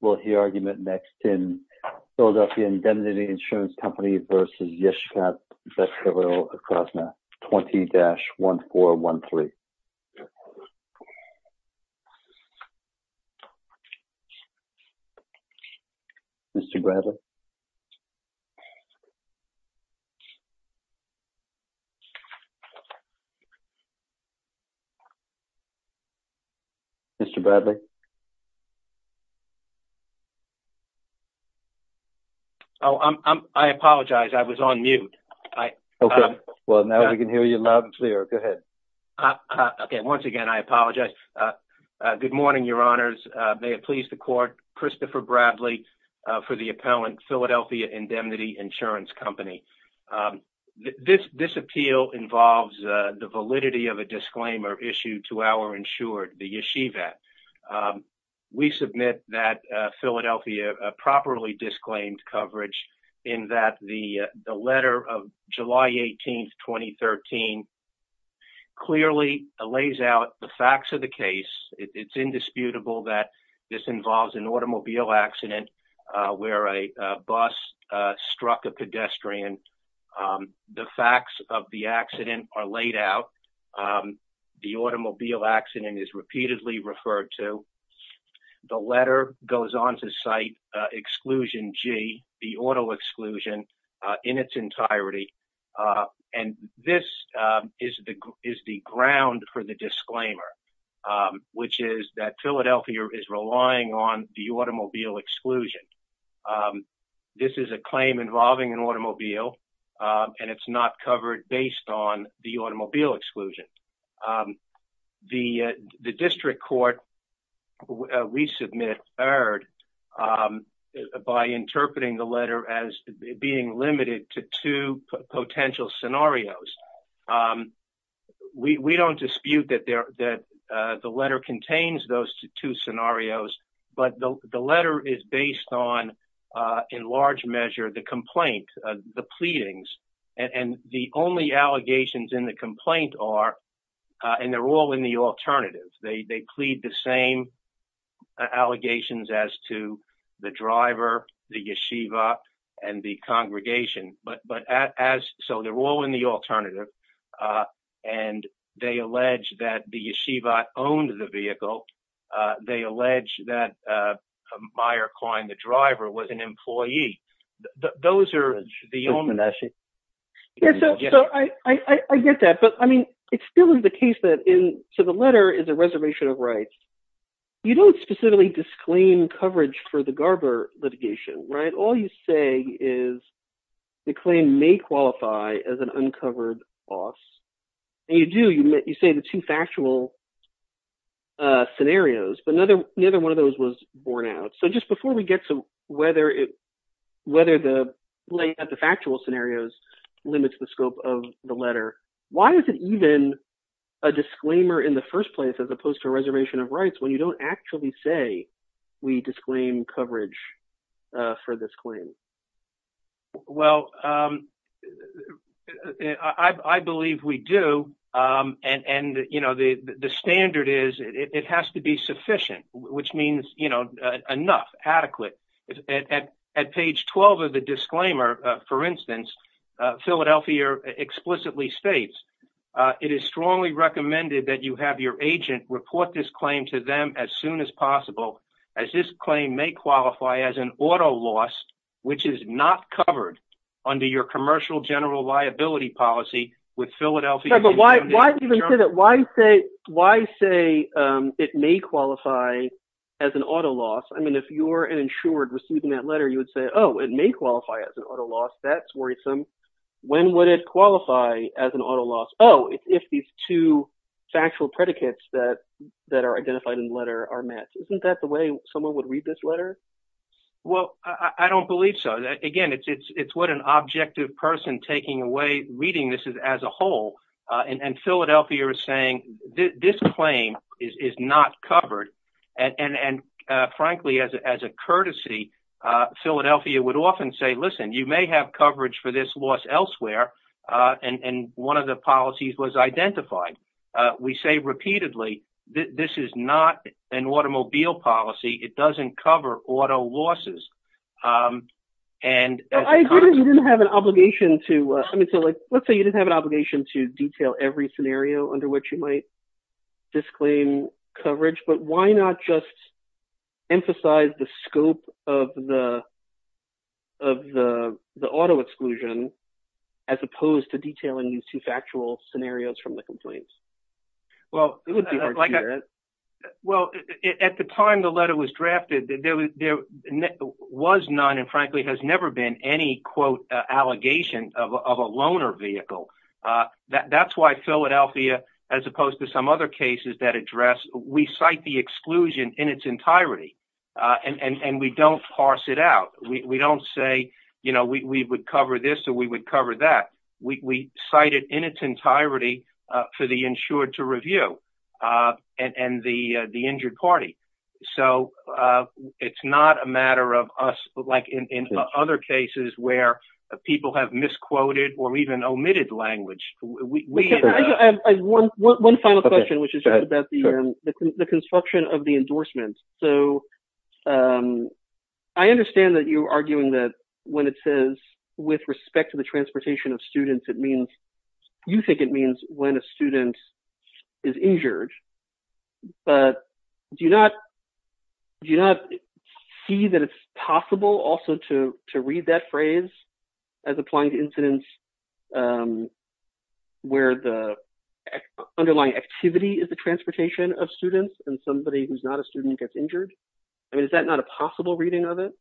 Will hear argument next in Philadelphia Indemnity Insurance Company v. Yeshivat Beth Hillil Acrosna 20-1413. Mr. Bradley? Oh, I apologize. I was on mute. Okay. Well, now we can hear you loud and clear. Go ahead. Okay. Once again, I apologize. Good morning, Your Honors. May it please the court, Christopher Bradley for the appellant, Philadelphia Indemnity Insurance Company. This appeal involves the validity of a disclaimer issued to our insured, the Yeshivat. We submit that Philadelphia properly disclaimed coverage in that the letter of July 18, 2013 clearly lays out the facts of the case. It's indisputable that this involves an automobile accident where a bus struck a pedestrian. The facts of the accident are laid out. The automobile accident is repeatedly referred to. The letter goes on to cite exclusion G, the auto exclusion in its entirety. And this is the ground for the disclaimer, which is that Philadelphia is relying on the automobile exclusion. This is a claim involving an automobile, and it's not covered based on the automobile exclusion. The district court, we submit, erred by interpreting the letter as being limited to two potential scenarios. We don't dispute that the letter contains those two scenarios, but the letter is based on, in large measure, the complaint, the pleadings. And the only allegations in the complaint are, and they're all in the alternative, they plead the same allegations as to the driver, the Yeshivat, and the congregation. But as so, they're all in the alternative. And they allege that the Yeshivat owned the vehicle. They allege that Meyer Klein, the driver, was an employee. Those are the only- Yeah, so I get that. But I mean, it still is the case that in, so the letter is a reservation of rights. You don't specifically disclaim coverage for the Garber litigation, right? All you say is the claim may qualify as an uncovered boss. And you do, you say the two factual scenarios, but neither one of those was borne out. So just before we get to whether it, whether the lay of the factual scenarios limits the scope of the letter, why is it even a disclaimer in the first place, as opposed to a reservation of rights, when you don't actually say, we disclaim coverage for this claim? Well, I believe we do. And, you know, the standard is it has to be sufficient, which means, you know, enough, adequate. At page 12 of the disclaimer, for instance, Philadelphia explicitly states, it is strongly recommended that you have your agent report this claim to them as soon as possible, as this claim may qualify as an auto loss, which is not covered under your commercial general policy. Why say it may qualify as an auto loss? I mean, if you're an insured receiving that letter, you would say, oh, it may qualify as an auto loss. That's worrisome. When would it qualify as an auto loss? Oh, if these two factual predicates that are identified in the letter are met, isn't that the way someone would read this letter? Well, I don't believe so. Again, it's what an objective person taking away, reading this as a whole, and Philadelphia is saying, this claim is not covered. And frankly, as a courtesy, Philadelphia would often say, listen, you may have coverage for this loss elsewhere. And one of the policies was identified. We say repeatedly, this is not an automobile policy. It doesn't cover auto losses. I agree that you didn't have an obligation to, I mean, so let's say you didn't have an obligation to detail every scenario under which you might disclaim coverage, but why not just emphasize the scope of the auto exclusion as opposed to detailing these two factual scenarios from the complaints? Well, it would be hard to do that. Well, at the time the letter was drafted, there was none and frankly has never been any, quote, allegation of a loaner vehicle. That's why Philadelphia, as opposed to some other cases that address, we cite the exclusion in its entirety and we don't parse it out. We don't say, you know, we would cover this or we would cover that. We cite it in its entirety for the insured to review and the injured party. So it's not a matter of us, like in other cases where people have misquoted or even omitted language. One final question, which is about the construction of the endorsements. So I understand that you're arguing that when it says with respect to the is injured, but do you not see that it's possible also to read that phrase as applying to incidents where the underlying activity is the transportation of students and somebody who's not a student gets injured? I mean, is that not a possible reading of it?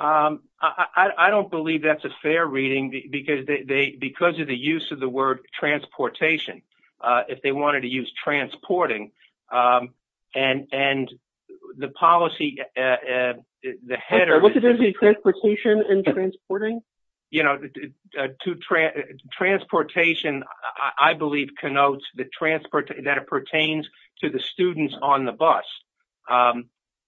I don't believe that's a fair reading because of the use of the word transportation. If they wanted to use transporting and the policy, the head of transportation and transporting, you know, to transportation, I believe connotes the transport that pertains to the students on the bus.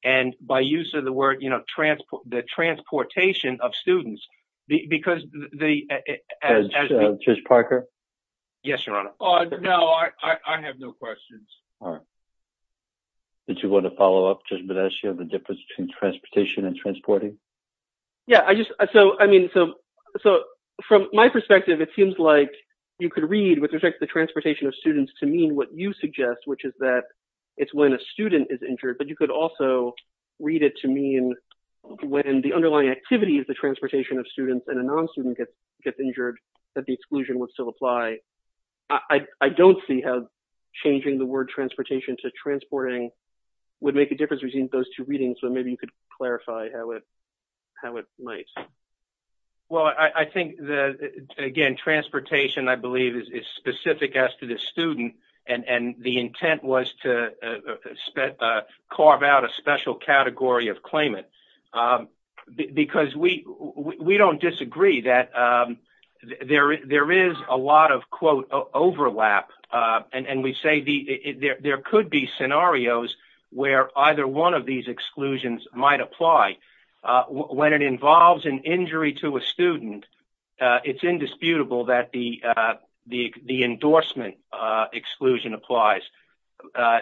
And by use of the word, you know, transport, the transportation of students, because they as just Parker. Yes, your honor. No, I have no questions. All right. Did you want to follow up just as you have a difference between transportation and transporting? Yeah, I just so I mean, so, so from my perspective, it seems like you could read with respect to the transportation of students to mean what you suggest, which is that it's when a student is injured, but you could also read it to me. And when the underlying activities, the transportation of students and a non-student get get injured, that the exclusion would still apply. I don't see how changing the word transportation to transporting would make a difference between those two readings. So maybe you could clarify how it how it might. Well, I think that, again, transportation, I believe, is specific as to the student. And the intent was to carve out a special category of claimant because we don't disagree that there is a lot of, quote, overlap. And we say there could be scenarios where either one of these exclusions might apply when it involves an injury to a student. It's indisputable that the exclusion applies.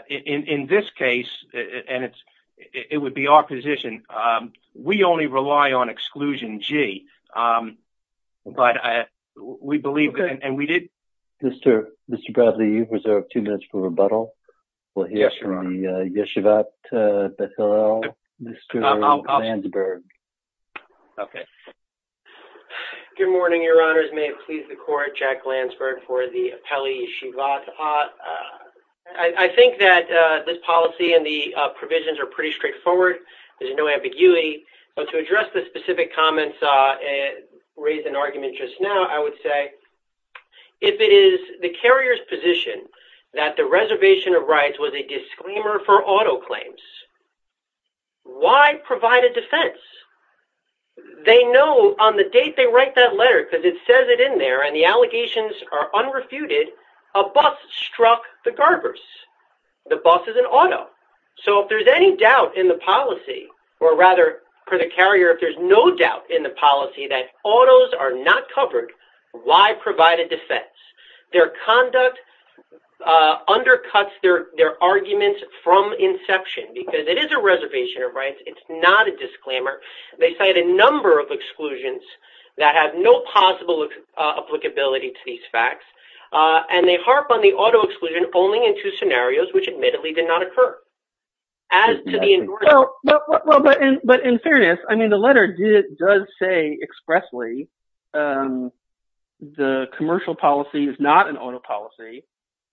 In this case, and it's it would be our position, we only rely on exclusion G. But we believe and we did. Mr. Bradley, you have two minutes for rebuttal. We'll hear from the Yeshivat Bethel, Mr. Lansberg. Okay. Good morning, Your Honors. May it please the court, Jack Lansberg for the appellee Yeshivat. I think that this policy and the provisions are pretty straightforward. There's no ambiguity. But to address the specific comments raised in argument just now, I would say if it is the carrier's position that the reservation of rights was a disclaimer for auto claims, why provide a defense? They know on the date they write that letter, because it says it in there, and the allegations are unrefuted, a bus struck the Garbers. The bus is an auto. So if there's any doubt in the policy, or rather, for the carrier, if there's no doubt in the policy that autos are not covered, why provide a defense? Their conduct undercuts their arguments from inception, because it is a reservation of rights. It's not a disclaimer. They cite a number of exclusions that have no possible applicability to these facts. And they harp on the auto exclusion only in two scenarios, which admittedly did not occur. But in fairness, I mean, the letter does say expressly, the commercial policy is not an auto policy.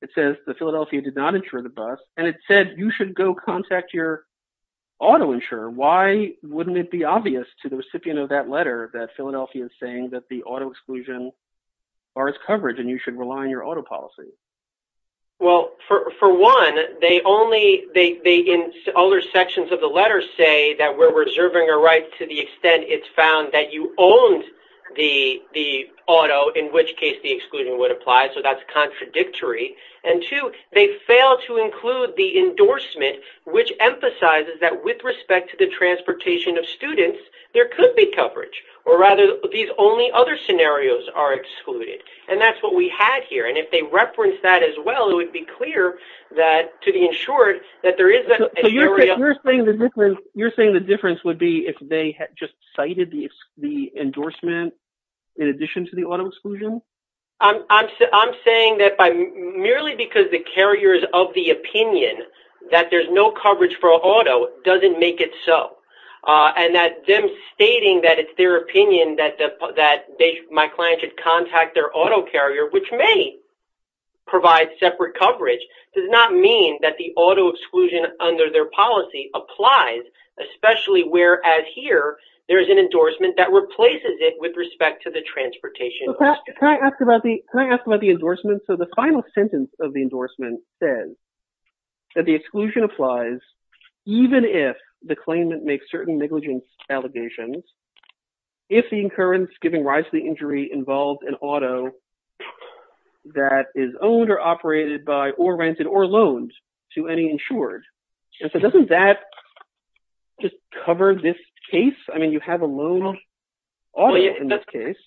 It says the Philadelphia did not insure the bus, and it said you should go contact your auto insurer. Why wouldn't it be obvious to the recipient of that letter that Philadelphia is saying that the auto exclusion are its coverage, and you should rely on your auto policy? Well, for one, they only, they in other sections of the letter say that we're reserving a right to the extent it's found that you owned the auto, in which case the exclusion would apply. So that's contradictory. And two, they fail to include the endorsement, which emphasizes that with respect to the transportation of students, there could be coverage. Or rather, these only other scenarios are excluded. And that's what we had here. And if they reference that as well, it would be clear that, to the insured, that there is an area. You're saying the difference would be if they had just cited the endorsement in addition to the auto exclusion? I'm saying that by, merely because the carriers of the opinion that there's no coverage for auto doesn't make it so. And that them stating that it's their opinion that my client should contact their auto carrier, which may provide separate coverage, does not mean that the auto exclusion under their policy applies, especially whereas here, there's an endorsement that replaces it with respect to the transportation. Can I ask about the endorsement? So the final sentence of the endorsement says that the exclusion applies even if the claimant makes certain negligence allegations, if the incurrence giving rise to the injury involves an auto that is owned or operated by or rented or loaned to any insured. And so doesn't that just cover this case? I mean, you have a loaned auto in this case.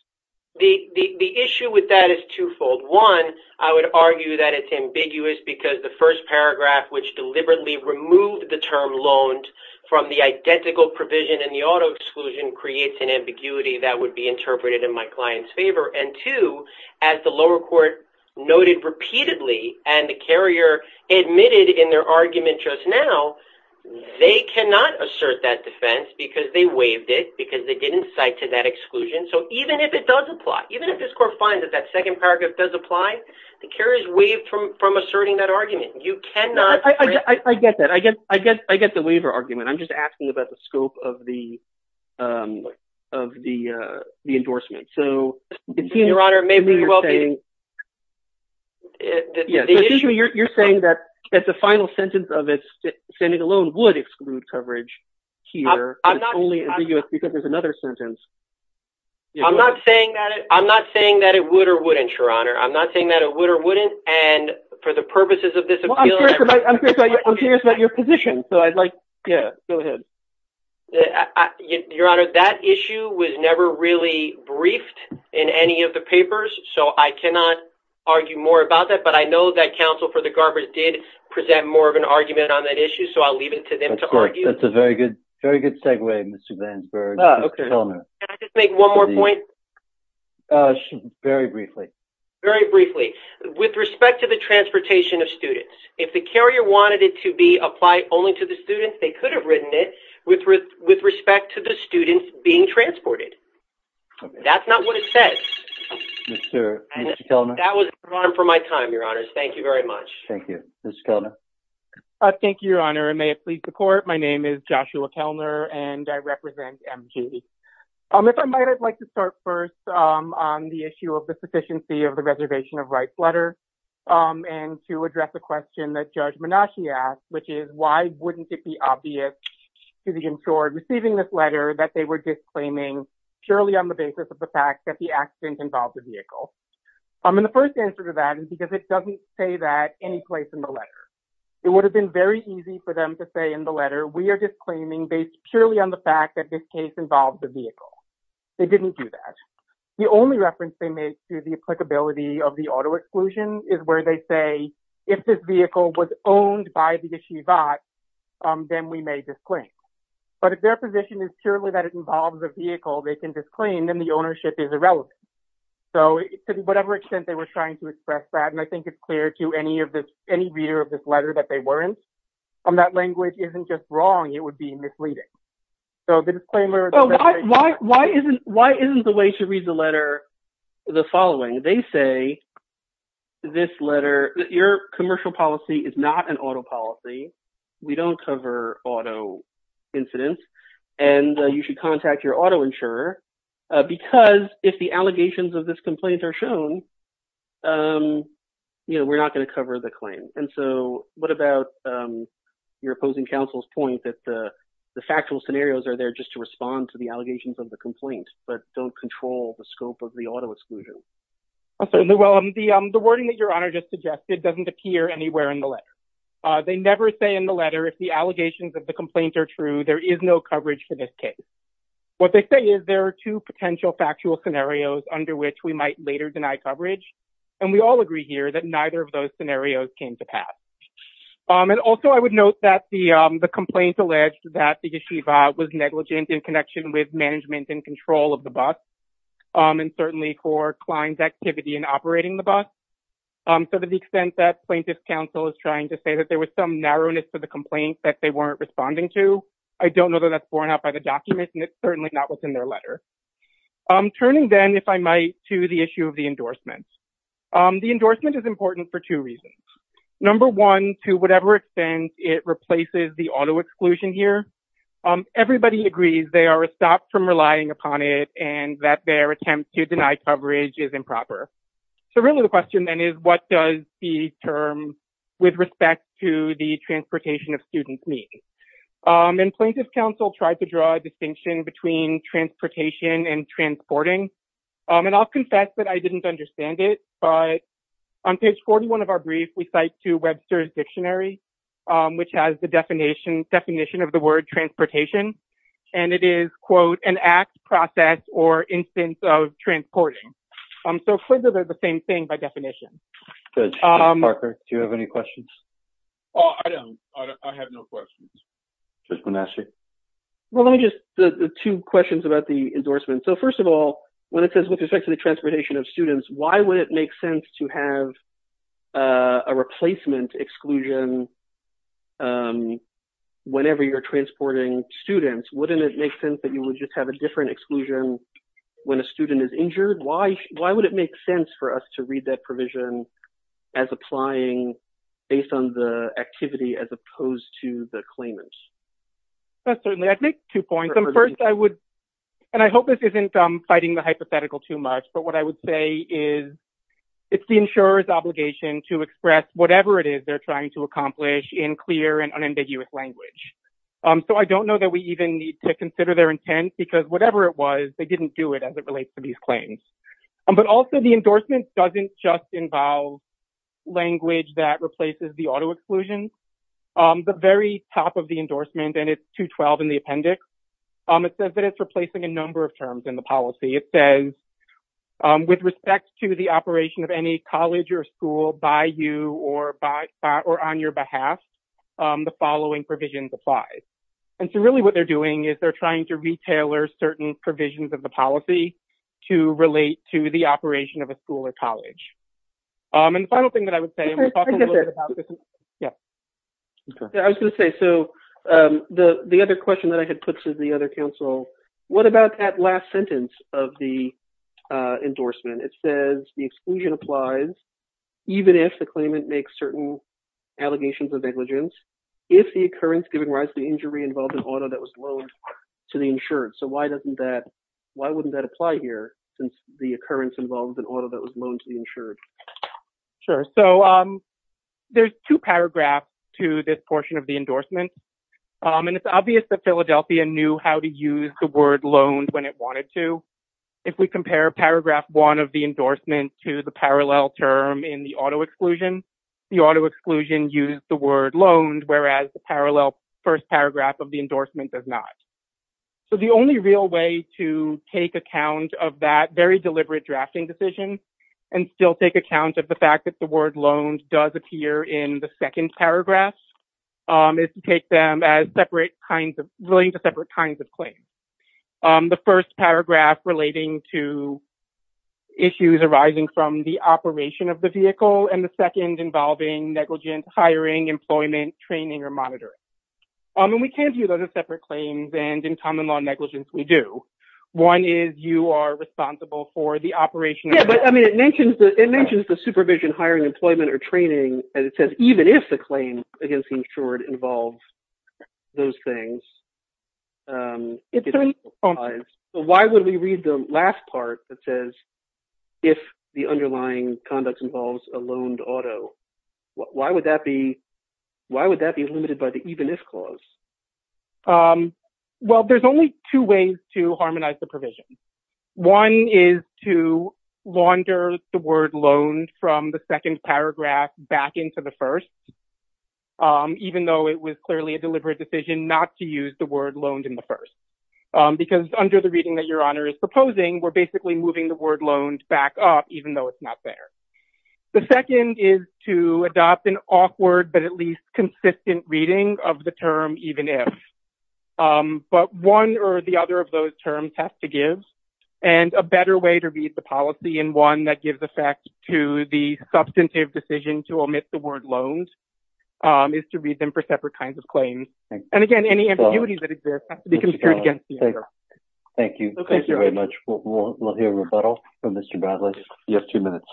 The issue with that is twofold. One, I would argue that it's ambiguous because the first paragraph, which deliberately removed the term loaned from the identical provision in the auto exclusion, creates an ambiguity that would be interpreted in my client's favor. And two, as the lower court noted repeatedly, and the carrier admitted in their argument just now, they cannot assert that exclusion. So even if it does apply, even if this court finds that that second paragraph does apply, the carrier is waived from asserting that argument. You cannot- I get that. I get the waiver argument. I'm just asking about the scope of the endorsement. So you're saying that the final sentence of it, sending a loan would exclude coverage here. It's only ambiguous because there's another sentence. I'm not saying that it would or wouldn't, Your Honor. I'm not saying that it would or wouldn't. And for the purposes of this appeal- I'm curious about your position. So I'd like- Yeah, go ahead. Your Honor, that issue was never really briefed in any of the papers, so I cannot argue more about that. But I know that counsel for the Garbers did present more of an argument on that issue. So I'll leave it to them to argue. That's a very good segue, Mr. Glansberg. Mr. Kellner. Can I just make one more point? Very briefly. Very briefly. With respect to the transportation of students, if the carrier wanted it to be applied only to the students, they could have written it with respect to the students being transported. That's not what it says. Mr. Kellner. That was an alarm for my time, Your Honors. Thank you very much. Thank you. Mr. Kellner. Thank you, Your Honor. And may it please the Court, my name is Joshua Kellner, and I represent MG. If I might, I'd like to start first on the issue of the sufficiency of the Reservation of Rights letter, and to address a question that Judge Menasche asked, which is, why wouldn't it be obvious to the insured receiving this letter that they were disclaiming purely on the basis of the fact that the accident involved a vehicle? And the first answer to that is because it doesn't say that any place in the letter. It would have been very easy for them to say in the letter, we are disclaiming based purely on the fact that this case involves a vehicle. They didn't do that. The only reference they made to the applicability of the auto exclusion is where they say, if this vehicle was owned by the yeshivot, then we may disclaim. But if their position is purely that it involves a vehicle, they can disclaim, then the ownership is irrelevant. So to whatever extent they were trying to express that, and I think it's clear to any reader of this letter that they weren't, that language isn't just wrong, it would be misleading. So the disclaimer- Oh, why isn't the way to read the letter the following? They say, this letter, your commercial policy is not an auto policy. We don't cover auto incidents, and you should contact your auto insurer, because if the allegations of this complaint are shown, you know, we're not going to cover the claim. And so what about your opposing counsel's point that the factual scenarios are there just to respond to the allegations of the complaint, but don't control the scope of the auto exclusion? Certainly. Well, the wording that your honor just suggested doesn't appear anywhere in the letter. They never say in the letter, if the allegations of the complaint are true, there is no coverage for this case. What they say is there are two potential factual scenarios under which we might later deny coverage. And we all agree here that neither of those scenarios came to pass. And also I would note that the complaint alleged that the yeshiva was negligent in connection with management and control of the bus, and certainly for client's activity in operating the bus. So to the extent that plaintiff's counsel is trying to say that there was some narrowness to the complaint that they weren't responding to, I don't know that that's certainly not what's in their letter. Turning then, if I might, to the issue of the endorsement. The endorsement is important for two reasons. Number one, to whatever extent it replaces the auto exclusion here, everybody agrees they are stopped from relying upon it and that their attempt to deny coverage is improper. So really the question then is what does the term with respect to the transportation of students mean? And plaintiff's counsel tried to draw a distinction between transportation and transporting. And I'll confess that I didn't understand it, but on page 41 of our brief, we cite to Webster's dictionary, which has the definition of the word transportation, and it is, quote, an act, process, or instance of transporting. So they're the same thing by definition. Good. Parker, do you have any questions? Oh, I don't. I have no questions. Judge Bonacci? Well, let me just, two questions about the endorsement. So first of all, when it says with respect to the transportation of students, why would it make sense to have a replacement exclusion whenever you're transporting students? Wouldn't it make sense that you would just have a different exclusion when a student is injured? Why would it make sense for us to read that provision as applying based on the activity as opposed to the claimant? That's certainly, I'd make two points. First, I would, and I hope this isn't fighting the hypothetical too much, but what I would say is it's the insurer's obligation to express whatever it is they're trying to accomplish in clear and unambiguous language. So I don't know that we even need to consider their intent because whatever it was, they didn't do it as it relates to these claims. But also the endorsement doesn't just involve language that replaces the auto exclusion. The very top of the endorsement, and it's 212 in the appendix, it says that it's replacing a number of terms in the policy. It says with respect to the operation of any college or school by you or on your behalf, the following provisions apply. And so really what they're doing is they're trying to retailer certain provisions of the policy to relate to the operation of a school or college. And the final thing that I would say, and we'll talk a little bit about this. Yeah. Okay. I was going to say, so the other question that I had put to the other counsel, what about that last sentence of the endorsement? It says the exclusion applies even if the claimant makes certain allegations of negligence, if the occurrence given rise to the insured. So why doesn't that, why wouldn't that apply here since the occurrence involves an order that was loaned to the insured? Sure. So there's two paragraphs to this portion of the endorsement. And it's obvious that Philadelphia knew how to use the word loaned when it wanted to. If we compare paragraph one of the endorsement to the parallel term in the auto exclusion, the auto exclusion used the word loaned, whereas the parallel first paragraph of endorsement does not. So the only real way to take account of that very deliberate drafting decision and still take account of the fact that the word loaned does appear in the second paragraph is to take them as separate kinds of, relating to separate kinds of claims. The first paragraph relating to issues arising from the operation of the vehicle and the second involving negligence, hiring, employment, training, or monitoring. And we can view those as separate claims and in common law negligence, we do. One is you are responsible for the operation. Yeah, but I mean, it mentions the supervision, hiring, employment, or training, and it says even if the claim against the insured involves those things. So why would we read the last part that says, if the underlying conduct involves a loaned auto, why would that be, why would that be limited by the even if clause? Well, there's only two ways to harmonize the provision. One is to launder the word loaned from the second paragraph back into the first, even though it was clearly a deliberate decision not to use the word loaned in the first. Because under the reading that your honor is proposing, we're basically moving the word loaned back up, even though it's not there. The second is to adopt an awkward, but at least consistent reading of the term, even if. But one or the other of those terms has to give, and a better way to read the policy in one that gives effect to the substantive decision to omit the word loans is to read them for separate kinds of claims. And again, any ambiguity that exists has to be considered against the other. Thank you. Thank you very much. We'll hear rebuttal from Mr. Bradley. You have two minutes.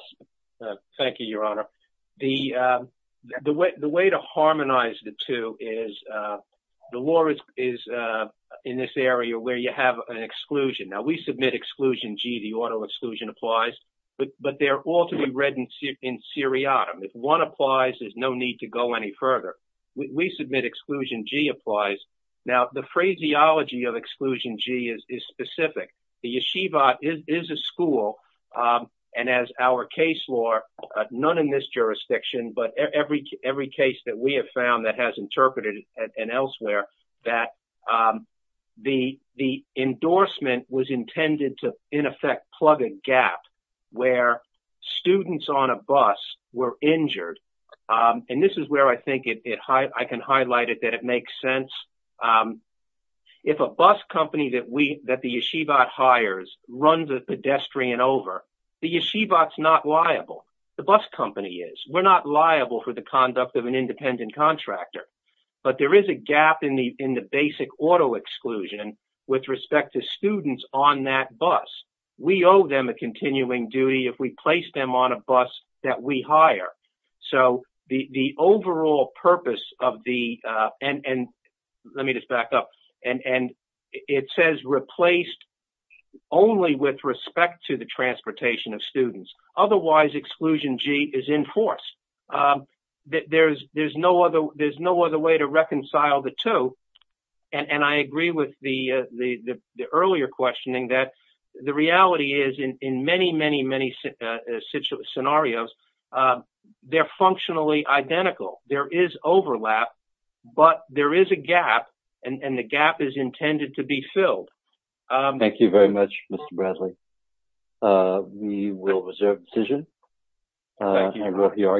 Thank you, your honor. The way to harmonize the two is the law is in this area where you have an exclusion. Now we submit exclusion G, the auto exclusion applies, but they're all to be read in seriatim. If one applies, there's no need to go any further. We submit exclusion G applies. Now the phraseology of exclusion G is specific. The yeshiva is a school. And as our case law, none in this jurisdiction, but every case that we have found that has interpreted and elsewhere that the endorsement was intended to in effect, plug a gap where students on a bus were injured. And this is where I think it, I can highlight it, that it makes sense. If a bus company that we, that the yeshiva hires run the pedestrian over, the yeshiva is not liable. The bus company is, we're not liable for the conduct of an independent contractor, but there is a gap in the, in the on that bus. We owe them a continuing duty if we place them on a bus that we hire. So the overall purpose of the, and let me just back up and, and it says replaced only with respect to the transportation of students. Otherwise exclusion G is in force. There's no other, there's no other way to reconcile the two. And I agree with the earlier questioning that the reality is in many, many, many scenarios, they're functionally identical. There is overlap, but there is a gap and the gap is intended to be filled. Thank you very much, Mr. Bradley. Uh, we will reserve decision. Thank you.